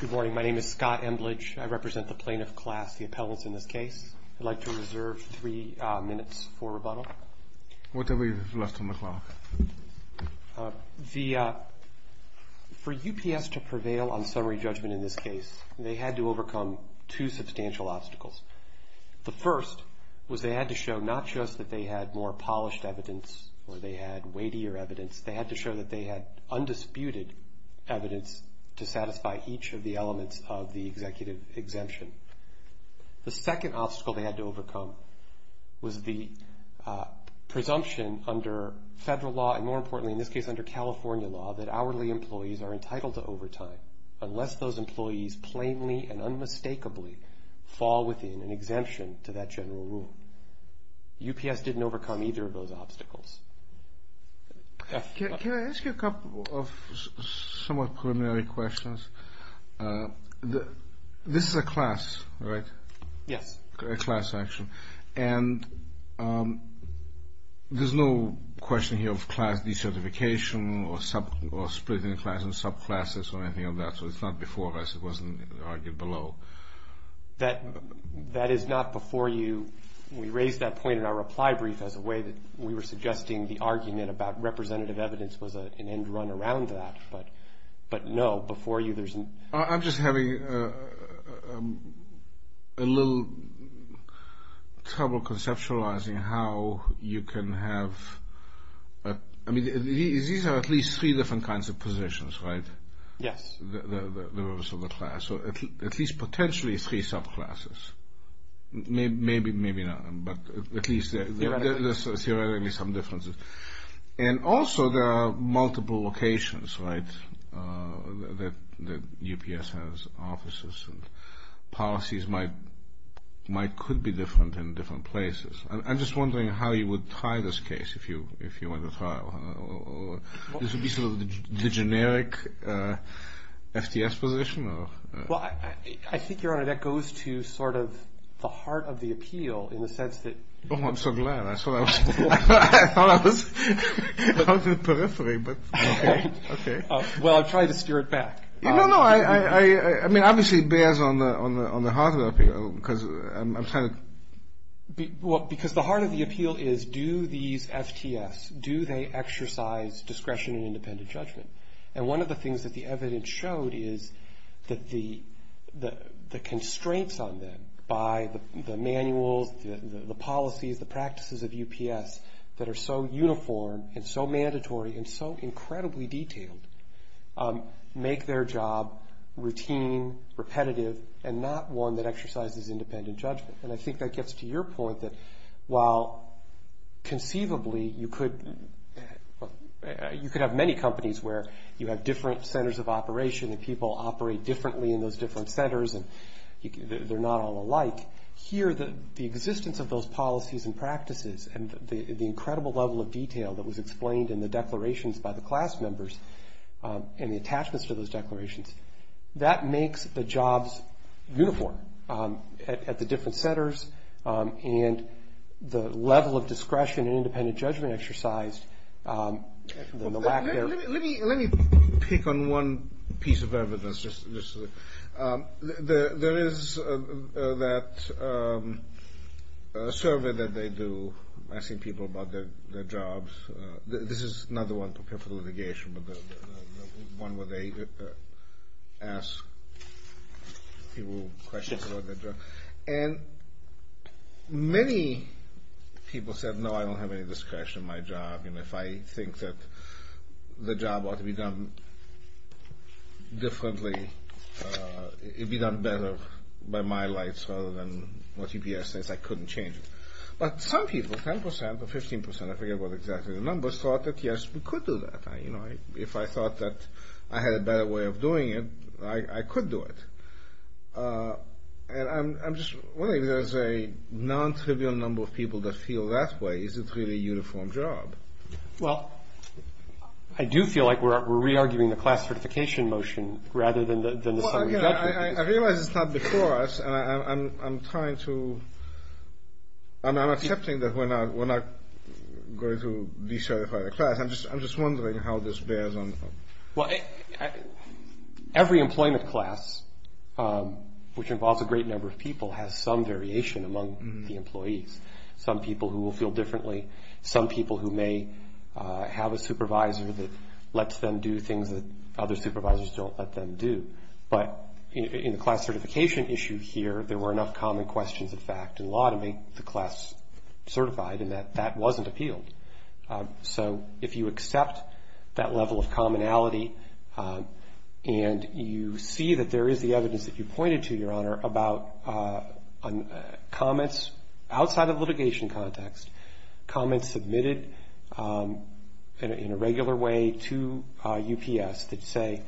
Good morning. My name is Scott Emblage. I represent the plaintiff class, the appellants in this case. I'd like to reserve three minutes for rebuttal. What do we have left on the clock? For UPS to prevail on summary judgment in this case, they had to overcome two substantial obstacles. The first was they had to show not just that they had more polished evidence or they had weightier evidence. They had to show that they had undisputed evidence to satisfy each of the elements of the executive exemption. The second obstacle they had to overcome was the presumption under federal law, and more importantly in this case under California law, that hourly employees are entitled to overtime unless those employees plainly and unmistakably fall within an exemption to that general rule. UPS didn't overcome either of those obstacles. Can I ask you a couple of somewhat preliminary questions? This is a class, right? Yes. A class action. And there's no question here of class decertification or splitting the class in subclasses or anything like that. So it's not before us. It wasn't argued below. That is not before you. We raised that point in our reply brief as a way that we were suggesting the argument about representative evidence was an end run around that. But, no, before you there's not. I'm just having a little trouble conceptualizing how you can have, I mean, these are at least three different kinds of positions, right? Yes. The rest of the class, or at least potentially three subclasses. Maybe not, but at least there's theoretically some differences. And also there are multiple locations, right, that UPS has offices and policies might could be different in different places. I'm just wondering how you would try this case if you went to trial. This would be sort of the generic FTS position? Well, I think, Your Honor, that goes to sort of the heart of the appeal in the sense that... Oh, I'm so glad. I thought I was on the periphery. Okay. Okay. Well, I'm trying to steer it back. No, no. I mean, obviously it bears on the heart of the appeal because I'm trying to... Well, because the heart of the appeal is do these FTS, do they exercise discretion and independent judgment? And one of the things that the evidence showed is that the constraints on them by the manuals, the policies, the practices of UPS that are so uniform and so mandatory and so incredibly detailed make their job routine, repetitive, and not one that exercises independent judgment. And I think that gets to your point that while conceivably you could have many companies where you have different centers of operation and people operate differently in those different centers and they're not all alike, here the existence of those policies and practices and the incredible level of detail that was explained in the declarations by the different centers and the level of discretion and independent judgment exercised... Let me pick on one piece of evidence. There is that survey that they do asking people about their jobs. This is not the one prepared for litigation, but the one where they ask people questions about their jobs. And many people said, no, I don't have any discretion in my job, and if I think that the job ought to be done differently, it'd be done better by my lights rather than what UPS says I couldn't change. But some people, 10 percent or 15 percent, I forget what exactly the numbers, thought that, yes, we could do that. If I thought that I had a better way of doing it, I could do it. And I'm just wondering if there's a non-trivial number of people that feel that way. Is it really a uniform job? Well, I do feel like we're re-arguing the class certification motion rather than the summary judgment. Well, again, I realize it's not before us, and I'm trying to – I'm accepting that we're not going to de-certify the class. I'm just wondering how this bears on. Well, every employment class, which involves a great number of people, has some variation among the employees. Some people who will feel differently. Some people who may have a supervisor that lets them do things that other supervisors don't let them do. But in the class certification issue here, there were enough common questions, in fact, in law to make the class certified, and that that wasn't appealed. So if you accept that level of commonality, and you see that there is the evidence that you pointed to, Your Honor, about comments outside of litigation context, comments submitted in a regular way to UPS that say,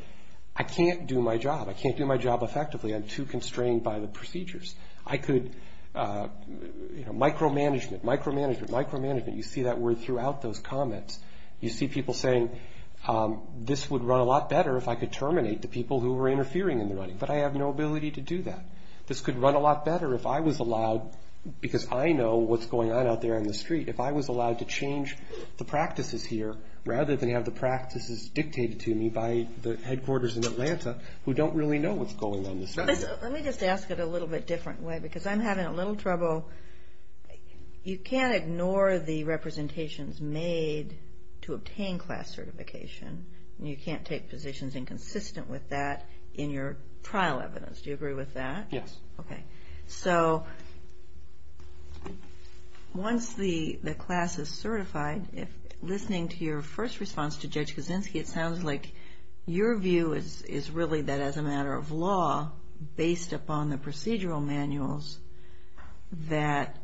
I can't do my job. I can't do my job effectively. I'm too constrained by the procedures. I could – micromanagement, micromanagement, micromanagement. You see that word throughout those comments. You see people saying, this would run a lot better if I could terminate the people who were interfering in the running. But I have no ability to do that. This could run a lot better if I was allowed – because I know what's going on out there on the street. If I was allowed to change the practices here, rather than have the practices dictated to me by the headquarters in Atlanta, who don't really know what's going on in this area. Let me just ask it a little bit different way, because I'm having a little trouble. So, you can't ignore the representations made to obtain class certification, and you can't take positions inconsistent with that in your trial evidence. Do you agree with that? Yes. Okay. So, once the class is certified, listening to your first response to Judge Kaczynski, it sounds like your view is really that as a matter of law, based upon the procedural manuals, that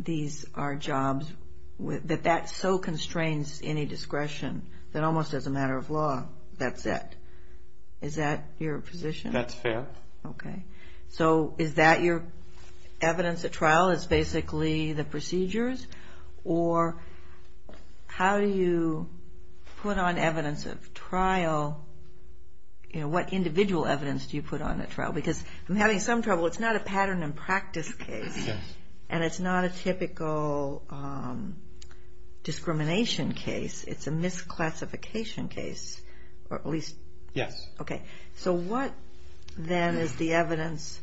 these are jobs – that that so constrains any discretion, that almost as a matter of law, that's it. Is that your position? That's fair. Okay. So, is that your evidence at trial? It's basically the procedures? Or how do you put on evidence of trial – what individual evidence do you put on at trial? Because I'm having some trouble. It's not a pattern and practice case, and it's not a typical discrimination case. It's a misclassification case, or at least – Yes. Okay. So, what, then, is the evidence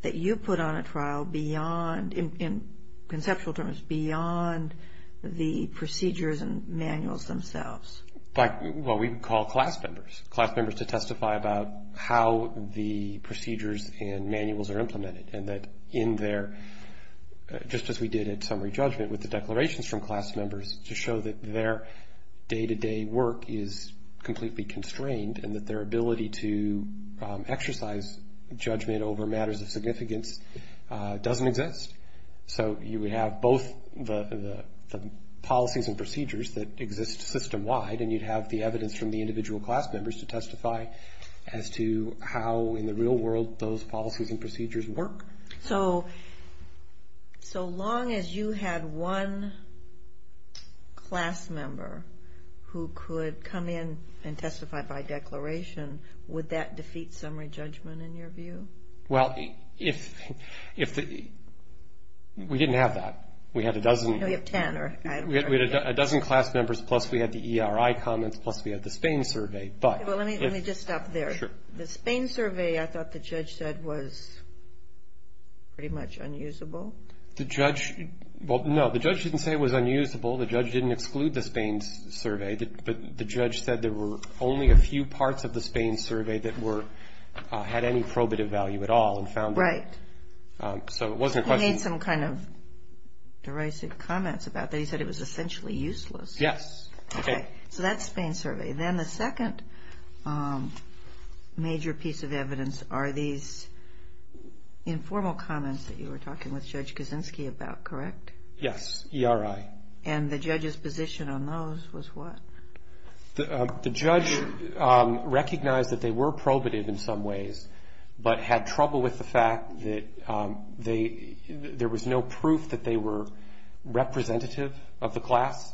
that you put on at trial beyond – in conceptual terms, beyond the procedures and manuals themselves? Well, we call class members, class members to testify about how the procedures and manuals are implemented, and that in their – just as we did at summary judgment with the declarations from class members, to show that their day-to-day work is completely constrained and that their ability to exercise judgment over matters of significance doesn't exist. So, you would have both the policies and procedures that exist system-wide, and you'd have the evidence from the individual class members to testify as to how, in the real world, those policies and procedures work. So, so long as you had one class member who could come in and testify by declaration, would that defeat summary judgment, in your view? Well, if – we didn't have that. We had a dozen – No, you have ten, or – We had a dozen class members, plus we had the ERI comments, plus we had the Spain survey, but – Well, let me just stop there. Sure. The Spain survey, I thought the judge said, was pretty much unusable. The judge – well, no, the judge didn't say it was unusable. The judge didn't exclude the Spain survey, but the judge said there were only a few parts of the Spain survey that were – had any probative value at all and found – Right. So, it wasn't a question – He made some kind of derisive comments about that. He said it was essentially useless. Yes. Okay. So, that's Spain survey. Then the second major piece of evidence are these informal comments that you were talking with Judge Kaczynski about, correct? Yes, ERI. And the judge's position on those was what? The judge recognized that they were probative in some ways, but had trouble with the fact that there was no proof that they were representative of the class.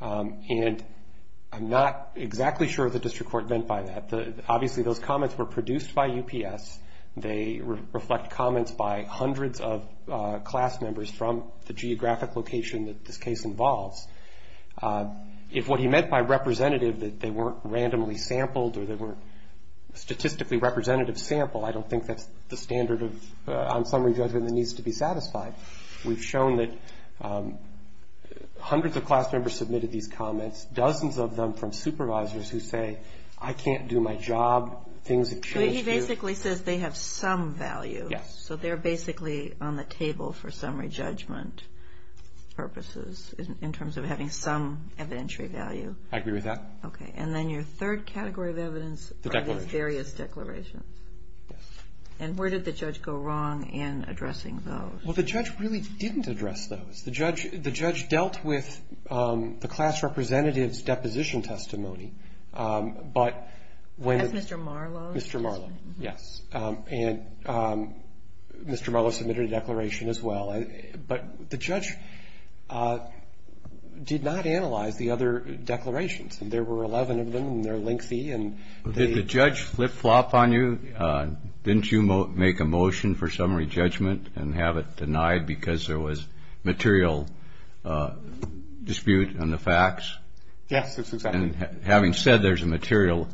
And I'm not exactly sure the district court meant by that. Obviously, those comments were produced by UPS. They reflect comments by hundreds of class members from the geographic location that this case involves. If what he meant by representative that they weren't randomly sampled or they weren't statistically representative sample, I don't think that's the standard of – on summary judgment that needs to be satisfied. We've shown that hundreds of class members submitted these comments, dozens of them from supervisors who say, I can't do my job, things have changed here. So, he basically says they have some value. Yes. So, they're basically on the table for summary judgment purposes in terms of having some evidentiary value. I agree with that. Okay. And then your third category of evidence are these various declarations. Yes. And where did the judge go wrong in addressing those? Well, the judge really didn't address those. The judge dealt with the class representative's deposition testimony. But when the – That's Mr. Marlowe's testimony. Mr. Marlowe. Yes. And Mr. Marlowe submitted a declaration as well. But the judge did not analyze the other declarations. There were 11 of them, and they're lengthy, and they – Did the judge flip-flop on you? Didn't you make a motion for summary judgment and have it denied because there was material dispute on the facts? Yes, that's exactly right. And having said there's a material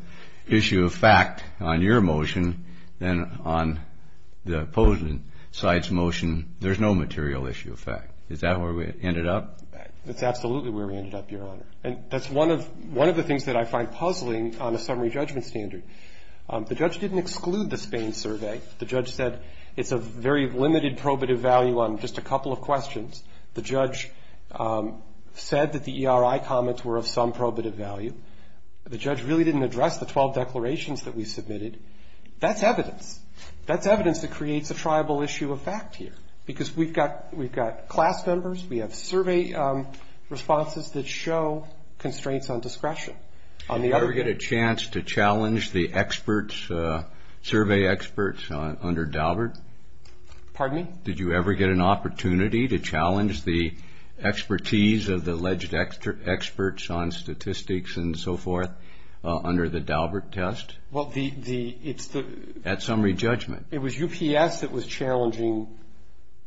issue of fact on your motion, then on the opposing side's motion, there's no material issue of fact. Is that where we ended up? That's absolutely where we ended up, Your Honor. And that's one of the things that I find puzzling on a summary judgment standard. The judge didn't exclude the Spain survey. The judge said it's of very limited probative value on just a couple of questions. The judge said that the ERI comments were of some probative value. The judge really didn't address the 12 declarations that we submitted. That's evidence. That's evidence that creates a triable issue of fact here because we've got class members, we have survey responses that show constraints on discretion. Did you ever get a chance to challenge the experts, survey experts under Daubert? Pardon me? Did you ever get an opportunity to challenge the expertise of the alleged experts on statistics and so forth under the Daubert test? Well, the – it's the – At summary judgment. It was UPS that was challenging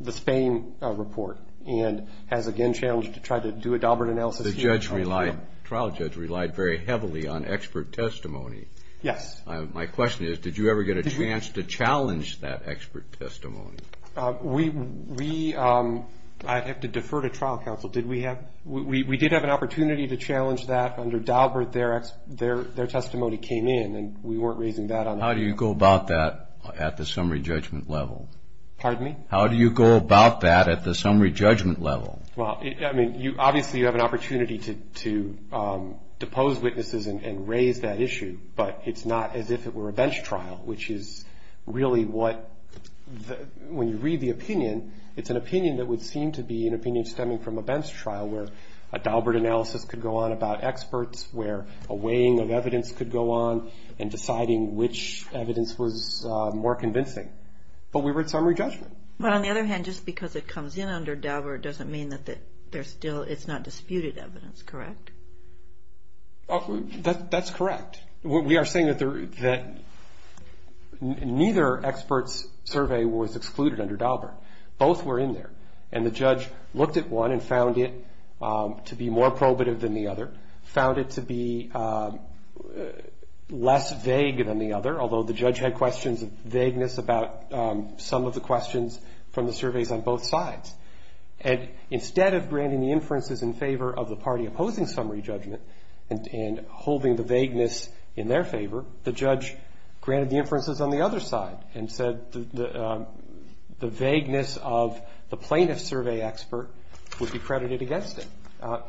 the Spain report and has again challenged to try to do a Daubert analysis here. The trial judge relied very heavily on expert testimony. Yes. My question is did you ever get a chance to challenge that expert testimony? We – I'd have to defer to trial counsel. Did we have – we did have an opportunity to challenge that under Daubert. Their testimony came in and we weren't raising that on – How do you go about that at the summary judgment level? Pardon me? How do you go about that at the summary judgment level? Well, I mean, obviously you have an opportunity to depose witnesses and raise that issue, but it's not as if it were a bench trial, which is really what – when you read the opinion, it's an opinion that would seem to be an opinion stemming from a bench trial where a Daubert analysis could go on about experts, where a weighing of evidence could go on and deciding which evidence was more convincing. But we were at summary judgment. But on the other hand, just because it comes in under Daubert doesn't mean that there's still – it's not disputed evidence, correct? That's correct. We are saying that neither expert's survey was excluded under Daubert. Both were in there. And the judge looked at one and found it to be more probative than the other, found it to be less vague than the other, although the judge had questions of vagueness about some of the questions from the surveys on both sides. And instead of granting the inferences in favor of the party opposing summary judgment and holding the vagueness in their favor, the judge granted the inferences on the other side and said the vagueness of the plaintiff's survey expert would be credited against it,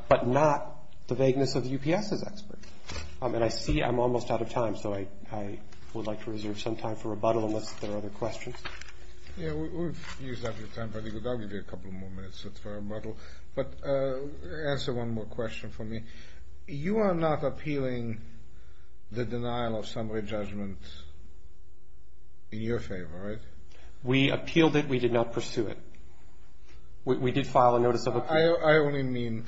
but not the vagueness of the UPS's expert. And I see I'm almost out of time, so I would like to reserve some time for rebuttal unless there are other questions. Yeah, we've used up your time. I think I'll give you a couple more minutes for rebuttal. But answer one more question for me. You are not appealing the denial of summary judgment in your favor, right? We appealed it. We did not pursue it. We did file a notice of appeal. I only mean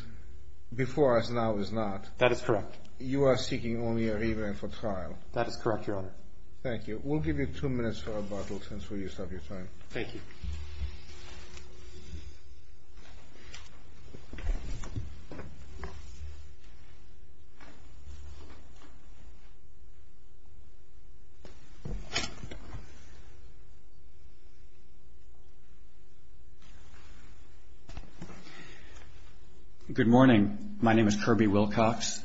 before us now is not. That is correct. You are seeking only a review and for trial. That is correct, Your Honor. Thank you. We'll give you two minutes for rebuttal since we used up your time. Thank you. Good morning. My name is Kirby Wilcox.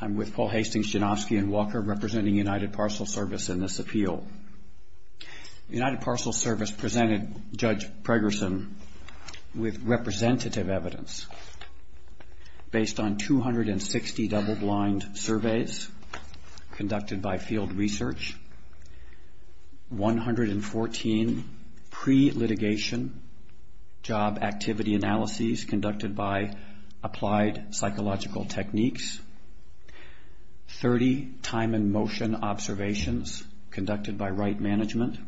I'm with Paul Hastings, Janofsky & Walker, representing United Parcel Service in this appeal. United Parcel Service presented Judge Pregerson with representative evidence based on 260 double-blind surveys conducted by field research, 114 pre-litigation job activity analyses conducted by applied psychological techniques, 30 time and motion observations conducted by right management.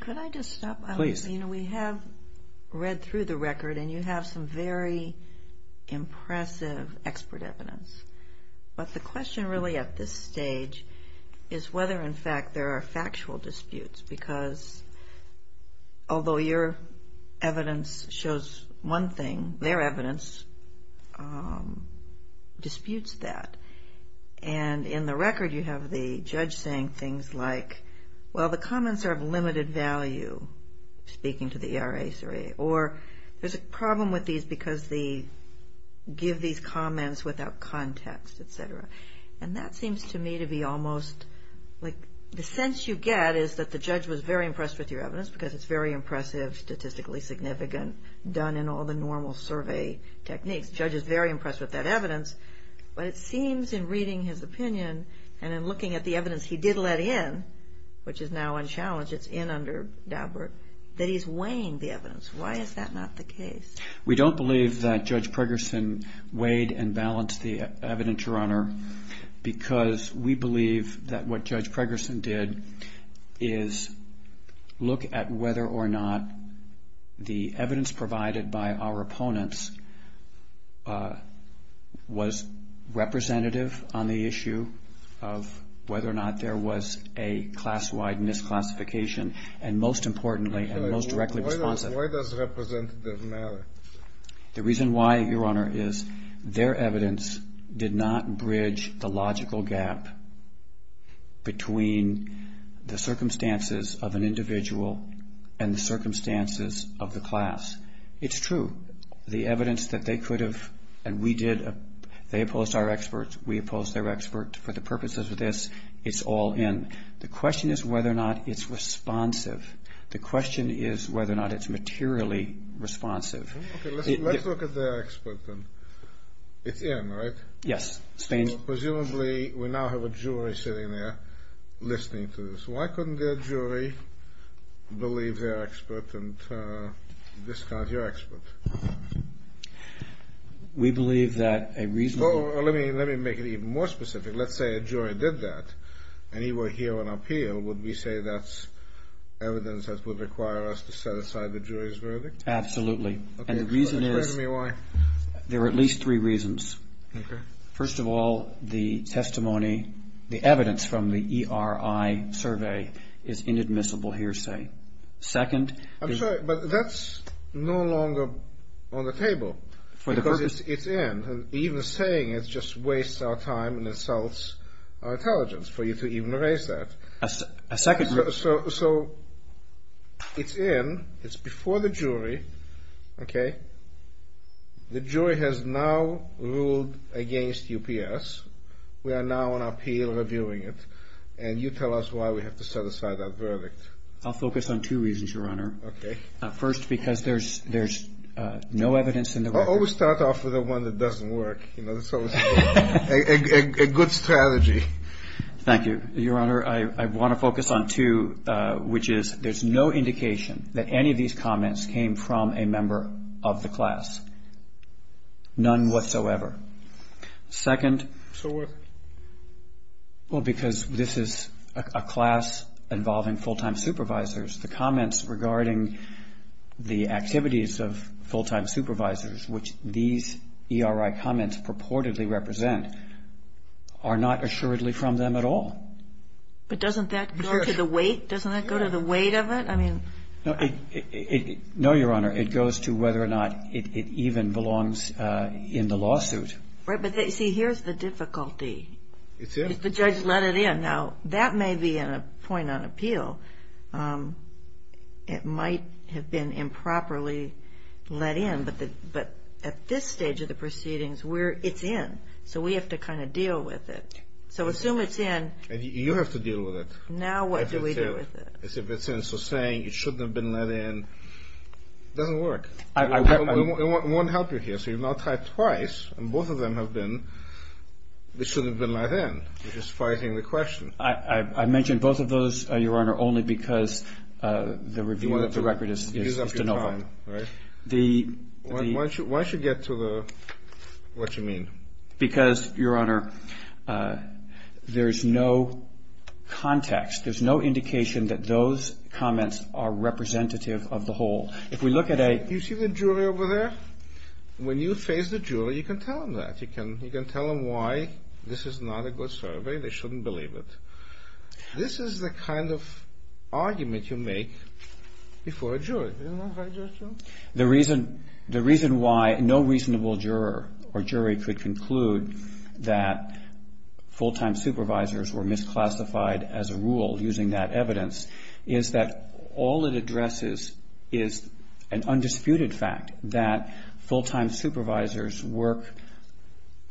Could I just stop? Please. You know, we have read through the record, and you have some very impressive expert evidence. But the question really at this stage is whether, in fact, there are factual disputes because although your evidence shows one thing, their evidence disputes that. And in the record, you have the judge saying things like, well, the comments are of limited value, speaking to the ERA survey, or there's a problem with these because they give these comments without context, et cetera. And that seems to me to be almost like the sense you get is that the judge was very impressed with your evidence because it's very impressive, statistically significant, done in all the normal survey techniques. The judge is very impressed with that evidence. But it seems in reading his opinion and in looking at the evidence he did let in, which is now unchallenged, it's in under Daubert, that he's weighing the evidence. Why is that not the case? We don't believe that Judge Pregerson weighed and balanced the evidence, Your Honor, because we believe that what Judge Pregerson did is look at whether or not the evidence provided by our opponents was representative on the issue of whether or not there was a class-wide misclassification, and most importantly and most directly responsive. Why does representative matter? The reason why, Your Honor, is their evidence did not bridge the logical gap between the circumstances of an individual and the circumstances of the class. It's true. The evidence that they could have, and we did, they opposed our expert, we opposed their expert, for the purposes of this, it's all in. The question is whether or not it's responsive. The question is whether or not it's materially responsive. Let's look at their expert, then. It's in, right? Yes. Presumably we now have a jury sitting there listening to this. Why couldn't their jury believe their expert and discard your expert? We believe that a reasonable... Let me make it even more specific. Let's say a jury did that, and you were here on appeal. Would we say that's evidence that would require us to set aside the jury's verdict? Absolutely. And the reason is... Explain to me why. There are at least three reasons. First of all, the testimony, the evidence from the ERI survey is inadmissible hearsay. Second... I'm sorry, but that's no longer on the table. For the purpose... Because it's in. Even saying it just wastes our time and insults our intelligence for you to even raise that. A second... So it's in. It's before the jury. Okay? The jury has now ruled against UPS. We are now on appeal reviewing it. And you tell us why we have to set aside our verdict. I'll focus on two reasons, Your Honor. Okay. First, because there's no evidence in the record. Always start off with the one that doesn't work. That's always a good strategy. Thank you. Your Honor, I want to focus on two, which is there's no indication that any of these comments came from a member of the class. None whatsoever. Second... So what? Well, because this is a class involving full-time supervisors, the comments regarding the activities of full-time supervisors, which these ERI comments purportedly represent, are not assuredly from them at all. But doesn't that go to the weight? Doesn't that go to the weight of it? No, Your Honor. It goes to whether or not it even belongs in the lawsuit. Right. But see, here's the difficulty. It's in. If the judge let it in. Now, that may be a point on appeal. It might have been improperly let in. But at this stage of the proceedings, it's in. So we have to kind of deal with it. So assume it's in. You have to deal with it. Now what do we do with it? As if it's in. So saying it shouldn't have been let in doesn't work. It won't help you here. So you've now typed twice, and both of them have been, it shouldn't have been let in. You're just fighting the question. I mentioned both of those, Your Honor, only because the review of the record is de novo. Why don't you get to what you mean? Because, Your Honor, there's no context. There's no indication that those comments are representative of the whole. If we look at a... You see the jury over there? When you face the jury, you can tell them that. You can tell them why this is not a good survey. They shouldn't believe it. This is the kind of argument you make before a jury. The reason why no reasonable juror or jury could conclude that full-time supervisors were misclassified as a rule using that evidence is that all it addresses is an undisputed fact that full-time supervisors work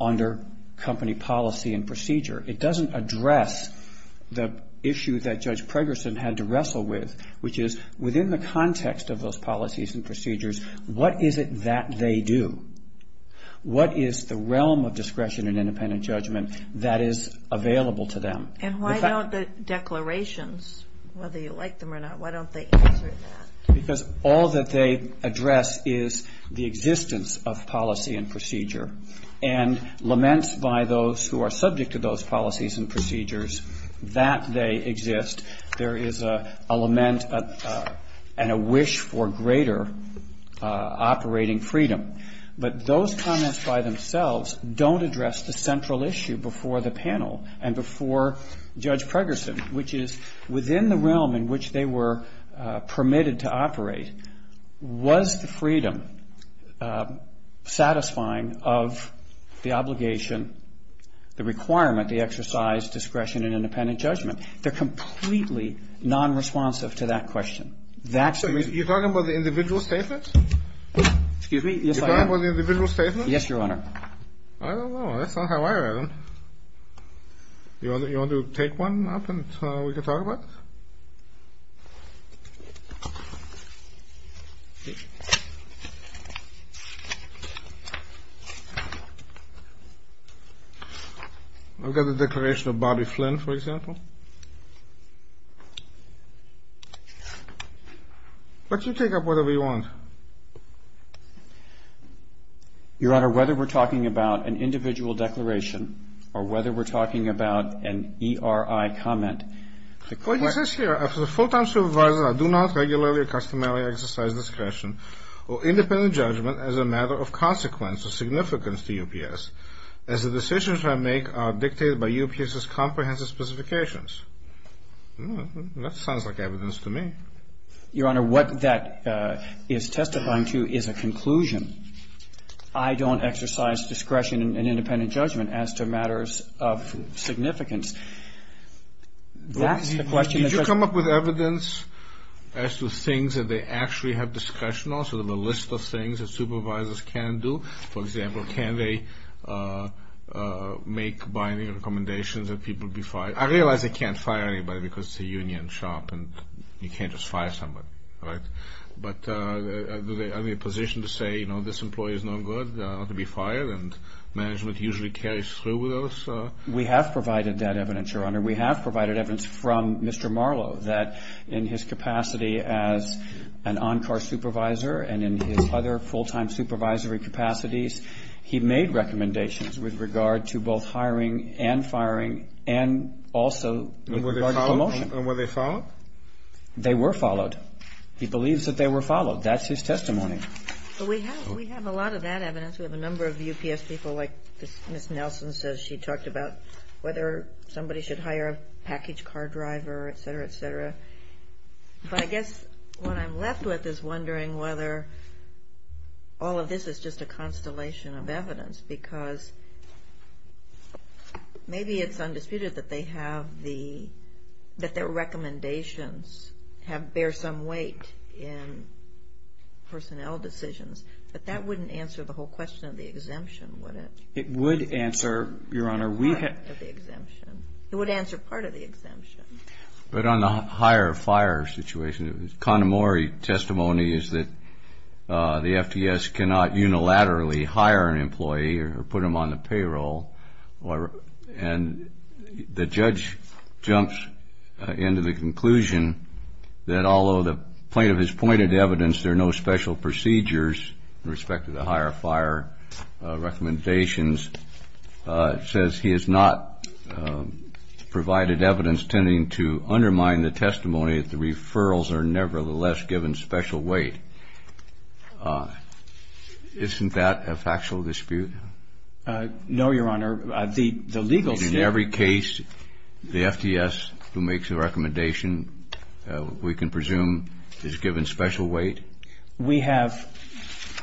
under company policy and procedure. It doesn't address the issue that Judge Pregerson had to wrestle with, which is within the context of those policies and procedures, what is it that they do? What is the realm of discretion and independent judgment that is available to them? And why don't the declarations, whether you like them or not, why don't they answer that? Because all that they address is the existence of policy and procedure, and laments by those who are subject to those policies and procedures that they exist. There is a lament and a wish for greater operating freedom. But those comments by themselves don't address the central issue before the panel and before Judge Pregerson, which is within the realm in which they were permitted to operate, was the freedom satisfying of the obligation, the requirement, the exercise, discretion, and independent judgment? They're completely nonresponsive to that question. That's the reason. You're talking about the individual statements? Yes, Your Honor. You're talking about the individual statements? Yes, Your Honor. I don't know. That's not how I read them. Do you want to take one up and we can talk about it? I've got the declaration of Bobby Flynn, for example. But you take up whatever you want. Your Honor, whether we're talking about an individual declaration or whether we're talking about an ERI comment, the question is here. As a full-time supervisor, I do not regularly or customarily exercise this authority. Or independent judgment as a matter of consequence or significance to UPS, as the decisions I make are dictated by UPS's comprehensive specifications. That sounds like evidence to me. Your Honor, what that is testifying to is a conclusion. I don't exercise discretion in independent judgment as to matters of significance. That's the question. Did you come up with evidence as to things that they actually have discretion on, sort of a list of things that supervisors can do? For example, can they make binding recommendations that people be fired? I realize they can't fire anybody because it's a union shop and you can't just fire somebody, right? But are they in a position to say, you know, this employee is no good, not to be fired? And management usually carries through with those? We have provided that evidence, Your Honor. We have provided evidence from Mr. Marlowe that in his capacity as an on-car supervisor and in his other full-time supervisory capacities, he made recommendations with regard to both hiring and firing and also with regard to promotion. And were they followed? They were followed. He believes that they were followed. That's his testimony. But we have a lot of that evidence. We have a number of UPS people like Ms. Nelson says she talked about, whether somebody should hire a package car driver, et cetera, et cetera. But I guess what I'm left with is wondering whether all of this is just a constellation of evidence because maybe it's undisputed that they have the – that their recommendations bear some weight in personnel decisions, but that wouldn't answer the whole question of the exemption, would it? It would answer, Your Honor, we have – Part of the exemption. It would answer part of the exemption. But on the hire-fire situation, Connemore testimony is that the FTS cannot unilaterally hire an employee or put them on the payroll and the judge jumps into the conclusion that although the plaintiff has pointed to evidence, there are no special procedures in respect to the hire-fire recommendations, says he has not provided evidence tending to undermine the testimony that the referrals are nevertheless given special weight. Isn't that a factual dispute? No, Your Honor. The legal state – we can presume is given special weight? We have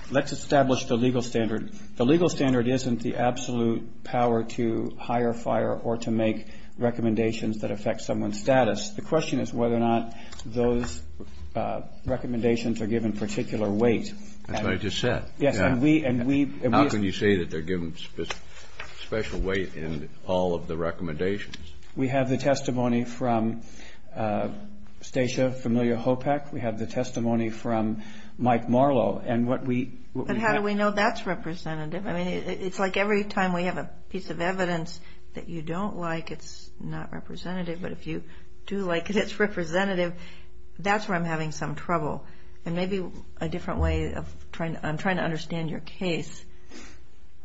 – let's establish the legal standard. The legal standard isn't the absolute power to hire-fire or to make recommendations that affect someone's status. The question is whether or not those recommendations are given particular weight. That's what I just said. Yes, and we – How can you say that they're given special weight in all of the recommendations? We have the testimony from Stacia Familio-Hopek. We have the testimony from Mike Marlow. And what we – But how do we know that's representative? I mean, it's like every time we have a piece of evidence that you don't like, it's not representative. But if you do like it, it's representative. That's where I'm having some trouble. And maybe a different way of trying – I'm trying to understand your case.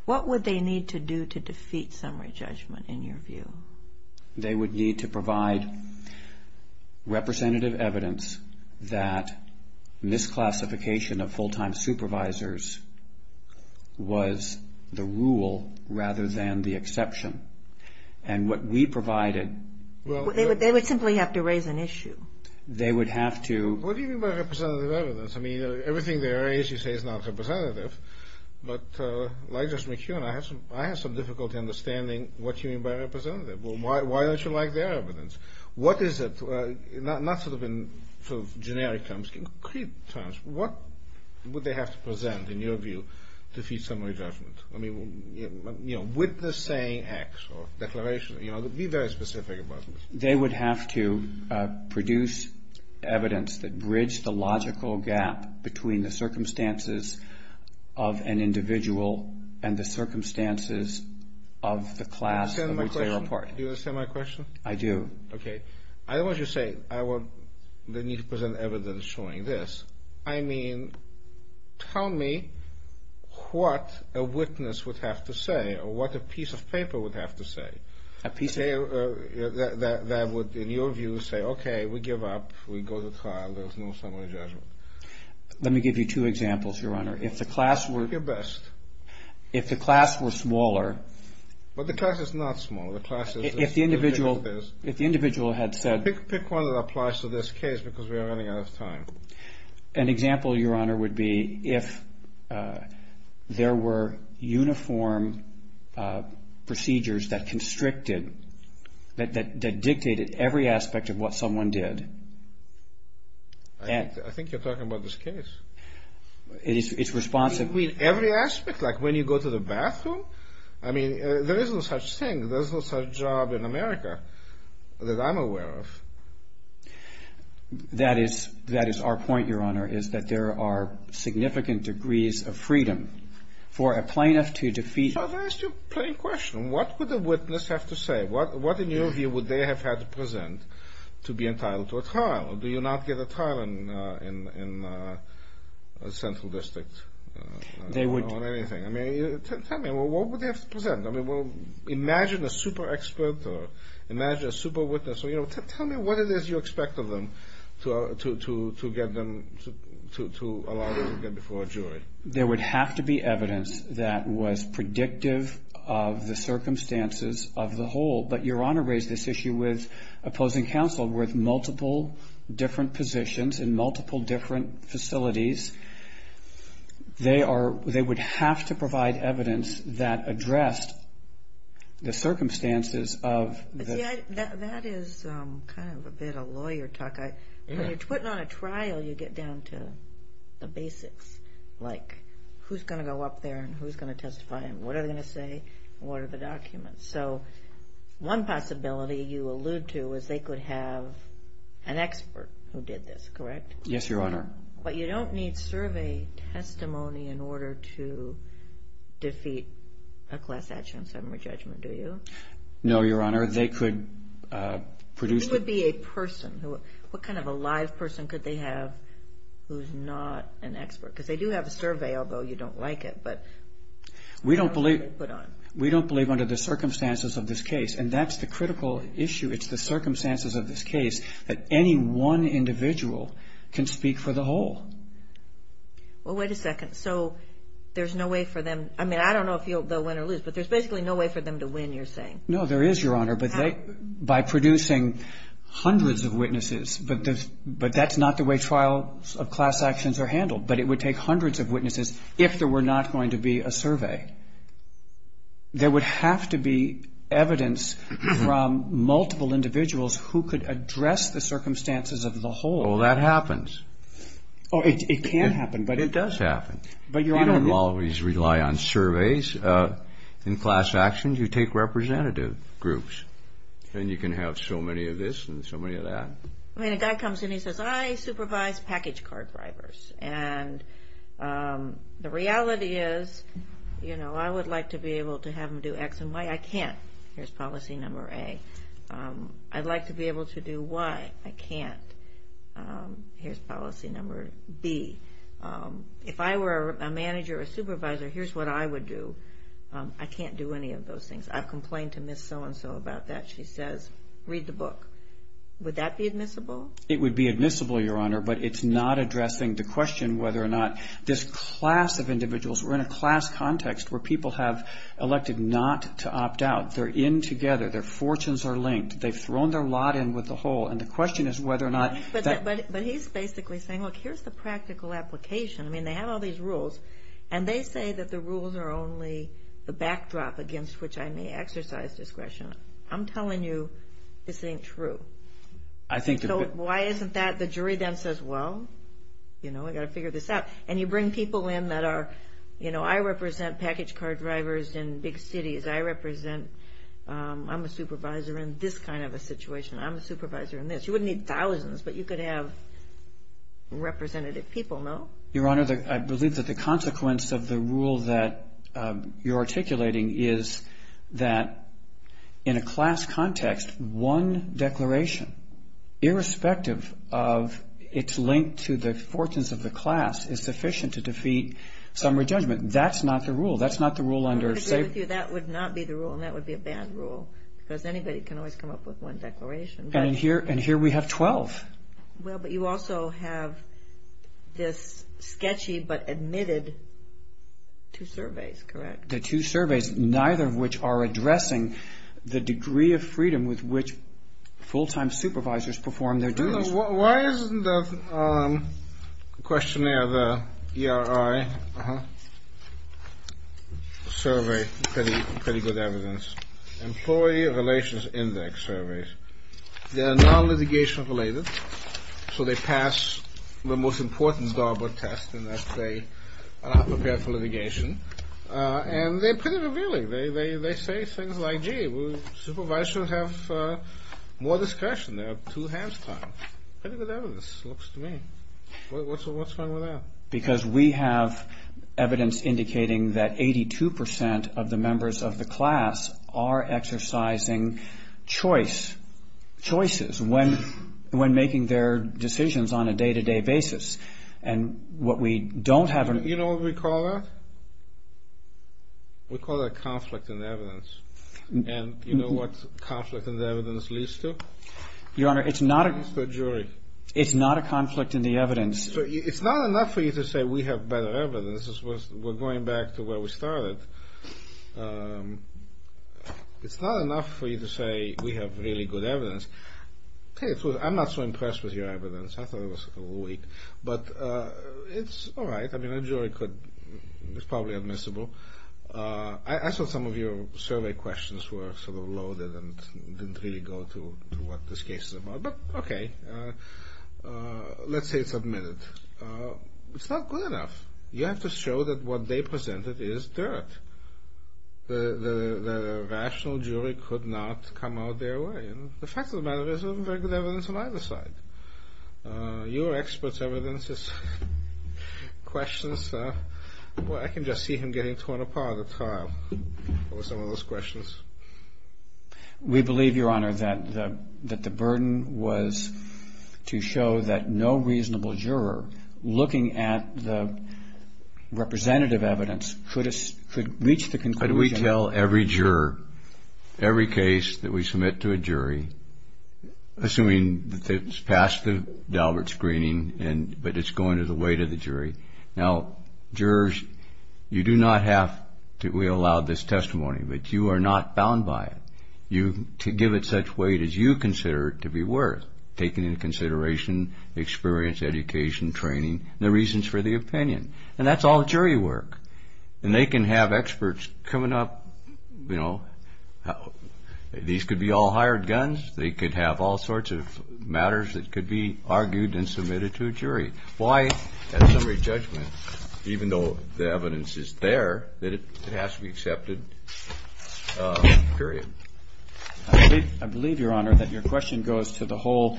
What would they need to do to defeat summary judgment in your view? They would need to provide representative evidence that misclassification of full-time supervisors was the rule rather than the exception. And what we provided – They would simply have to raise an issue. They would have to – What do you mean by representative evidence? I mean, everything there is you say is not representative. But like Judge McKeown, I have some difficulty understanding what you mean by representative. Why don't you like their evidence? What is it – not sort of in generic terms, concrete terms. What would they have to present in your view to defeat summary judgment? I mean, with the saying X or declaration – be very specific about this. They would have to produce evidence that bridged the logical gap between the circumstances of an individual and the circumstances of the class of which they were part. Do you understand my question? I do. Okay. I don't want you to say, I will need to present evidence showing this. I mean, tell me what a witness would have to say or what a piece of paper would have to say. A piece of – That would, in your view, say, okay, we give up. We go to trial. There's no summary judgment. Let me give you two examples, Your Honor. If the class were – Do your best. If the class were smaller – But the class is not smaller. The class is – If the individual had said – Pick one that applies to this case because we are running out of time. An example, Your Honor, would be if there were uniform procedures that constricted, that dictated every aspect of what someone did. I think you're talking about this case. It's responsive – You mean every aspect? Like when you go to the bathroom? I mean, there is no such thing. There's no such job in America that I'm aware of. That is our point, Your Honor, is that there are significant degrees of freedom for a plaintiff to defeat – So if I ask you a plain question, what would a witness have to say? What, in your view, would they have had to present to be entitled to a trial? Do you not get a trial in a central district? They would – On anything. I mean, tell me. What would they have to present? I mean, imagine a super expert or imagine a super witness. So, you know, tell me what it is you expect of them to get them to allow them to get before a jury. There would have to be evidence that was predictive of the circumstances of the whole. But Your Honor raised this issue with opposing counsel with multiple different positions in multiple different facilities. They are – they would have to provide evidence that addressed the circumstances of – See, that is kind of a bit of lawyer talk. When you're putting on a trial, you get down to the basics, like who's going to go up there and who's going to testify and what are they going to say and what are the documents. So one possibility you allude to is they could have an expert who did this, correct? Yes, Your Honor. But you don't need survey testimony in order to defeat a class action summary judgment, do you? No, Your Honor. They could produce – It would be a person. What kind of a live person could they have who's not an expert? Because they do have a survey, although you don't like it, but – We don't believe under the circumstances of this case, and that's the critical issue. It's the circumstances of this case that any one individual can speak for the whole. Well, wait a second. So there's no way for them – I mean, I don't know if they'll win or lose, but there's basically no way for them to win, you're saying? No, there is, Your Honor, but they – by producing hundreds of witnesses, but that's not the way trials of class actions are handled. But it would take hundreds of witnesses if there were not going to be a survey. There would have to be evidence from multiple individuals who could address the circumstances of the whole. Well, that happens. It can happen, but it doesn't. It does happen. You don't always rely on surveys in class actions. You take representative groups, and you can have so many of this and so many of that. I mean, a guy comes in, he says, I supervise package card drivers, and the reality is I would like to be able to have them do X and Y. I can't. Here's policy number A. I'd like to be able to do Y. I can't. Here's policy number B. If I were a manager or a supervisor, here's what I would do. I can't do any of those things. I've complained to Ms. So-and-so about that. She says, read the book. Would that be admissible? It would be admissible, Your Honor, but it's not addressing the question whether or not this class of individuals – we're in a class context where people have elected not to opt out. They're in together. Their fortunes are linked. They've thrown their lot in with the whole, and the question is whether or not that – But he's basically saying, look, here's the practical application. I mean, they have all these rules, and they say that the rules are only the backdrop against which I may exercise discretion. I'm telling you this ain't true. Why isn't that? The jury then says, well, you know, we've got to figure this out. And you bring people in that are – you know, I represent package card drivers in big cities. I represent – I'm a supervisor in this kind of a situation. I'm a supervisor in this. You wouldn't need thousands, but you could have representative people, no? Your Honor, I believe that the consequence of the rule that you're articulating is that in a class context, one declaration, irrespective of its link to the fortunes of the class, is sufficient to defeat summary judgment. That's not the rule. That's not the rule under – I agree with you. That would not be the rule, and that would be a bad rule because anybody can always come up with one declaration. And here we have 12. Well, but you also have this sketchy but admitted two surveys, correct? The two surveys, neither of which are addressing the degree of freedom with which full-time supervisors perform their duties. Why isn't the questionnaire, the ERI survey pretty good evidence? Employee Relations Index Survey. They're non-litigation related, so they pass the most important DARPA test in that they are prepared for litigation. And they're pretty revealing. They say things like, gee, supervisors should have more discretion. They have two hands time. Pretty good evidence, it looks to me. What's wrong with that? Because we have evidence indicating that 82% of the members of the class are exercising choices when making their decisions on a day-to-day basis. And what we don't have – You know what we call that? We call that conflict in evidence. And you know what conflict in evidence leads to? Your Honor, it's not a – It's the jury. It's not a conflict in the evidence. It's not enough for you to say we have better evidence. We're going back to where we started. It's not enough for you to say we have really good evidence. I'm not so impressed with your evidence. I thought it was weak. But it's all right. I mean, a jury could – It's probably admissible. I saw some of your survey questions were sort of loaded and didn't really go to what this case is about. But okay. Let's say it's admitted. It's not good enough. You have to show that what they presented is dirt. The rational jury could not come out their way. And the fact of the matter is, there wasn't very good evidence on either side. Your expert's evidence is questions. Well, I can just see him getting torn apart at trial over some of those questions. We believe, Your Honor, that the burden was to show that no reasonable juror, looking at the representative evidence, could reach the conclusion. But we tell every juror, every case that we submit to a jury, assuming that it's passed the Daubert screening but it's going to the weight of the jury. Now, jurors, you do not have to allow this testimony. But you are not bound by it. To give it such weight as you consider it to be worth, taking into consideration experience, education, training, the reasons for the opinion. And that's all jury work. And they can have experts coming up, you know, these could be all hired guns. They could have all sorts of matters that could be argued and submitted to a jury. Why, at summary judgment, even though the evidence is there, that it has to be accepted? Period. I believe, Your Honor, that your question goes to the whole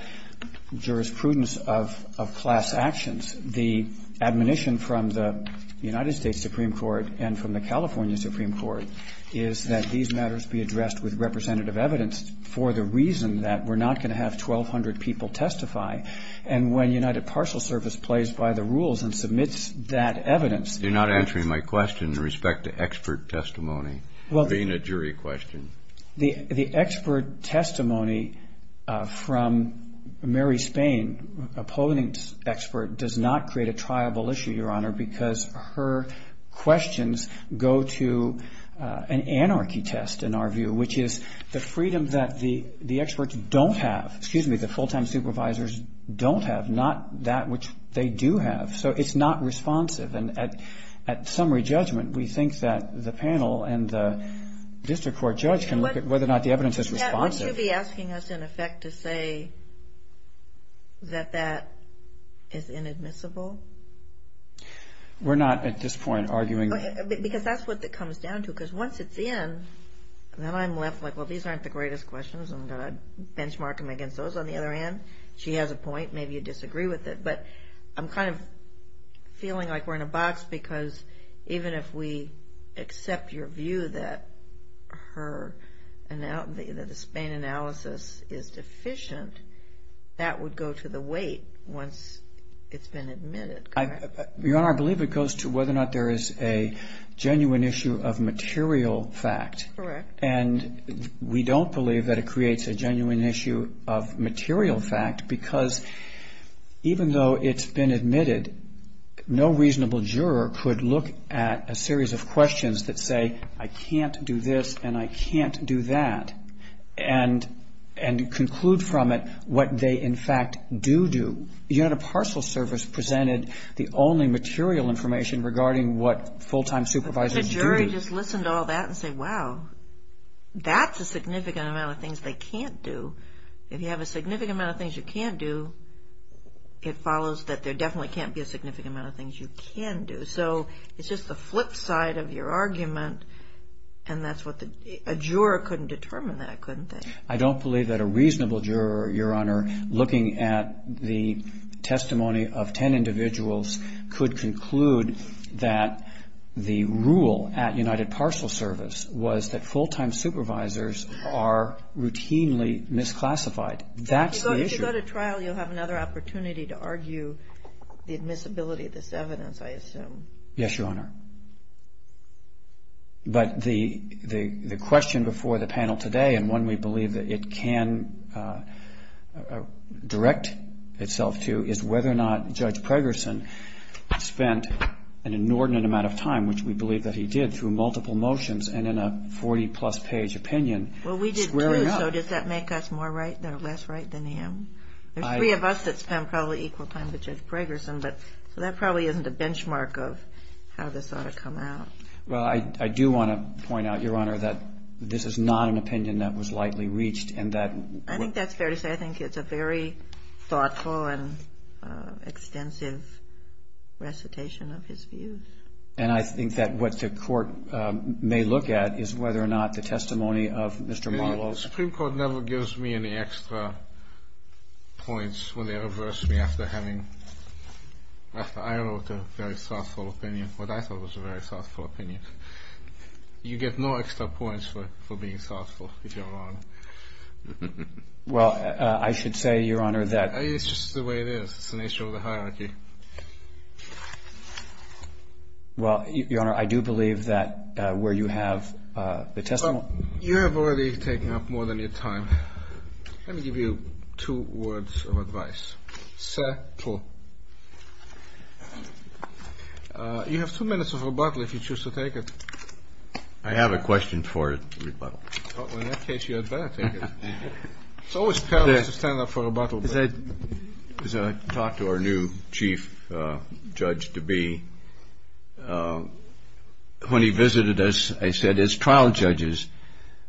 jurisprudence of class actions. The admonition from the United States Supreme Court and from the California Supreme Court is that these matters be addressed with representative evidence for the reason that we're not going to have 1,200 people testify. And when United Parcel Service plays by the rules and submits that evidence You're not answering my question in respect to expert testimony, being a jury question. The expert testimony from Mary Spain, a polling expert, does not create a triable issue, Your Honor, because her questions go to an anarchy test, in our view, which is the freedom that the experts don't have. Excuse me, the full-time supervisors don't have, not that which they do have. So it's not responsive. And at summary judgment, we think that the panel and the district court judge can look at whether or not the evidence is responsive. Would you be asking us, in effect, to say that that is inadmissible? We're not at this point arguing that. Because that's what it comes down to, because once it's in, then I'm left like, well, these aren't the greatest questions. I'm going to benchmark them against those. On the other hand, she has a point. Maybe you disagree with it. But I'm kind of feeling like we're in a box, because even if we accept your view that the Spain analysis is deficient, that would go to the weight once it's been admitted, correct? Your Honor, I believe it goes to whether or not there is a genuine issue of material fact. Correct. And we don't believe that it creates a genuine issue of material fact, because even though it's been admitted, no reasonable juror could look at a series of questions that say, I can't do this and I can't do that, and conclude from it what they, in fact, do do. You had a parcel service presented the only material information regarding what full-time supervisors do do. But the jury just listened to all that and said, wow, that's a significant amount of things they can't do. If you have a significant amount of things you can do, it follows that there definitely can't be a significant amount of things you can do. So it's just the flip side of your argument, and a juror couldn't determine that, couldn't they? I don't believe that a reasonable juror, Your Honor, looking at the testimony of ten individuals could conclude that the rule at United Parcel Service was that full-time supervisors are routinely misclassified. That's the issue. If you go to trial, you'll have another opportunity to argue the admissibility of this evidence, I assume. Yes, Your Honor. But the question before the panel today, and one we believe that it can direct itself to, is whether or not Judge Pregerson spent an inordinate amount of time, which we believe that he did, through multiple motions and in a 40-plus page opinion, squaring up. Well, we did too, so does that make us less right than him? There's three of us that spent probably equal time with Judge Pregerson, so that probably isn't a benchmark of how this ought to come out. Well, I do want to point out, Your Honor, that this is not an opinion that was lightly reached. I think that's fair to say. I think it's a very thoughtful and extensive recitation of his views. And I think that what the Court may look at is whether or not the testimony of Mr. Marlowe. The Supreme Court never gives me any extra points when they reverse me after having, after I wrote a very thoughtful opinion, what I thought was a very thoughtful opinion. You get no extra points for being thoughtful, if you're wrong. Well, I should say, Your Honor, that It's just the way it is. It's an issue of the hierarchy. Well, Your Honor, I do believe that where you have the testimony. You have already taken up more than your time. Let me give you two words of advice. Settle. You have two minutes of rebuttal if you choose to take it. I have a question for rebuttal. Well, in that case, you had better take it. It's always perilous to stand up for rebuttal. As I talked to our new chief judge-to-be, when he visited us, I said, As trial judges,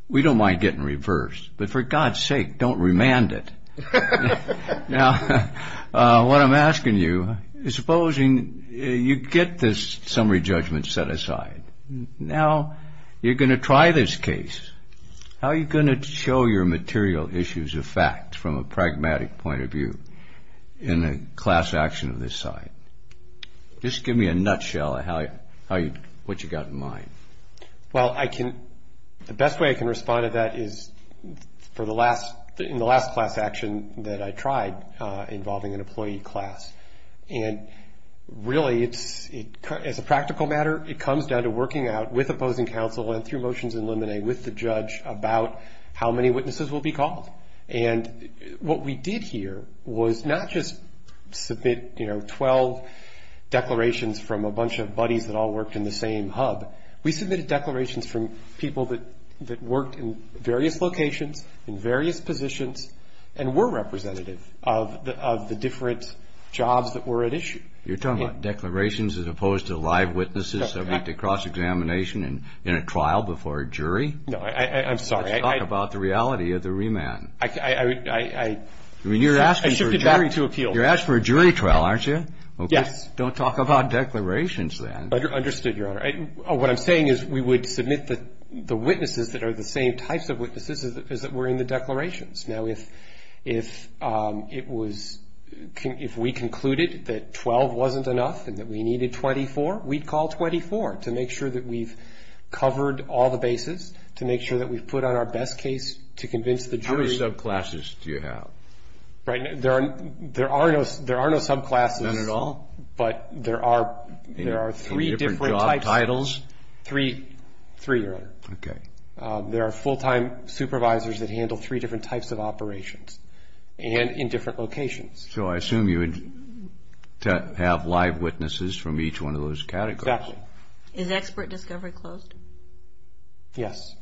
we don't mind getting reversed, but for God's sake, don't remand it. Now, what I'm asking you is supposing you get this summary judgment set aside. Now, you're going to try this case. How are you going to show your material issues of fact from a pragmatic point of view in a class action of this site? Just give me a nutshell of what you've got in mind. Well, the best way I can respond to that is in the last class action that I tried involving an employee class. And really, as a practical matter, it comes down to working out, with opposing counsel and through motions in limine, with the judge about how many witnesses will be called. And what we did here was not just submit, you know, 12 declarations from a bunch of buddies that all worked in the same hub. We submitted declarations from people that worked in various locations, in various positions, and were representative of the different jobs that were at issue. You're talking about declarations as opposed to live witnesses that went to cross-examination in a trial before a jury? No, I'm sorry. Talk about the reality of the remand. I shifted that to appeal. You're asking for a jury trial, aren't you? Yes. Don't talk about declarations then. Understood, Your Honor. What I'm saying is we would submit the witnesses that are the same types of witnesses as that were in the declarations. Now, if we concluded that 12 wasn't enough and that we needed 24, we'd call 24 to make sure that we've covered all the bases, to make sure that we've put on our best case to convince the jury. How many subclasses do you have? There are no subclasses. None at all? But there are three different types. In different job titles? Three, Your Honor. Okay. There are full-time supervisors that handle three different types of operations and in different locations. So I assume you would have live witnesses from each one of those categories? Exactly. Is expert discovery closed? Yes.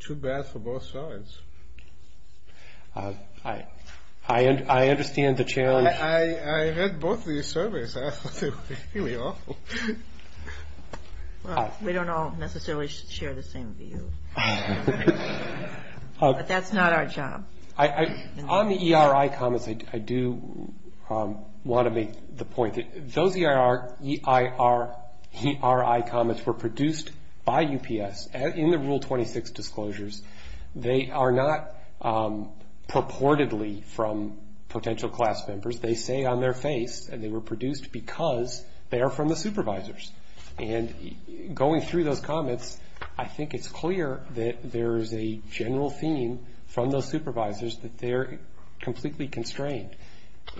Too bad for both sides. I understand the challenge. I read both these surveys. Here we are. Well, we don't all necessarily share the same view. But that's not our job. On the ERI comments, I do want to make the point that those ERI comments were produced by UPS. In the Rule 26 disclosures, they are not purportedly from potential class members. They say on their face that they were produced because they are from the supervisors. And going through those comments, I think it's clear that there is a general theme from those supervisors that they're completely constrained.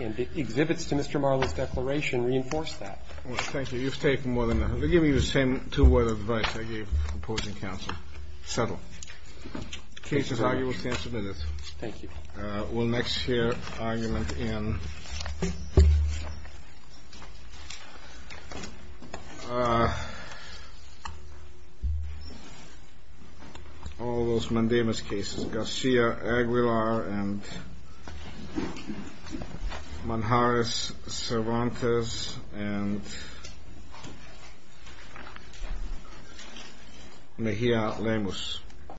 And the exhibits to Mr. Marley's declaration reinforce that. Well, thank you. You've taken more than enough. Let me give you the same two-word advice I gave opposing counsel. Settle. The case is arguable. It's been submitted. Thank you. We'll next hear argument in all those Mandemis cases. Garcia-Aguilar and Manjares-Cervantes and Mejia-Lemus.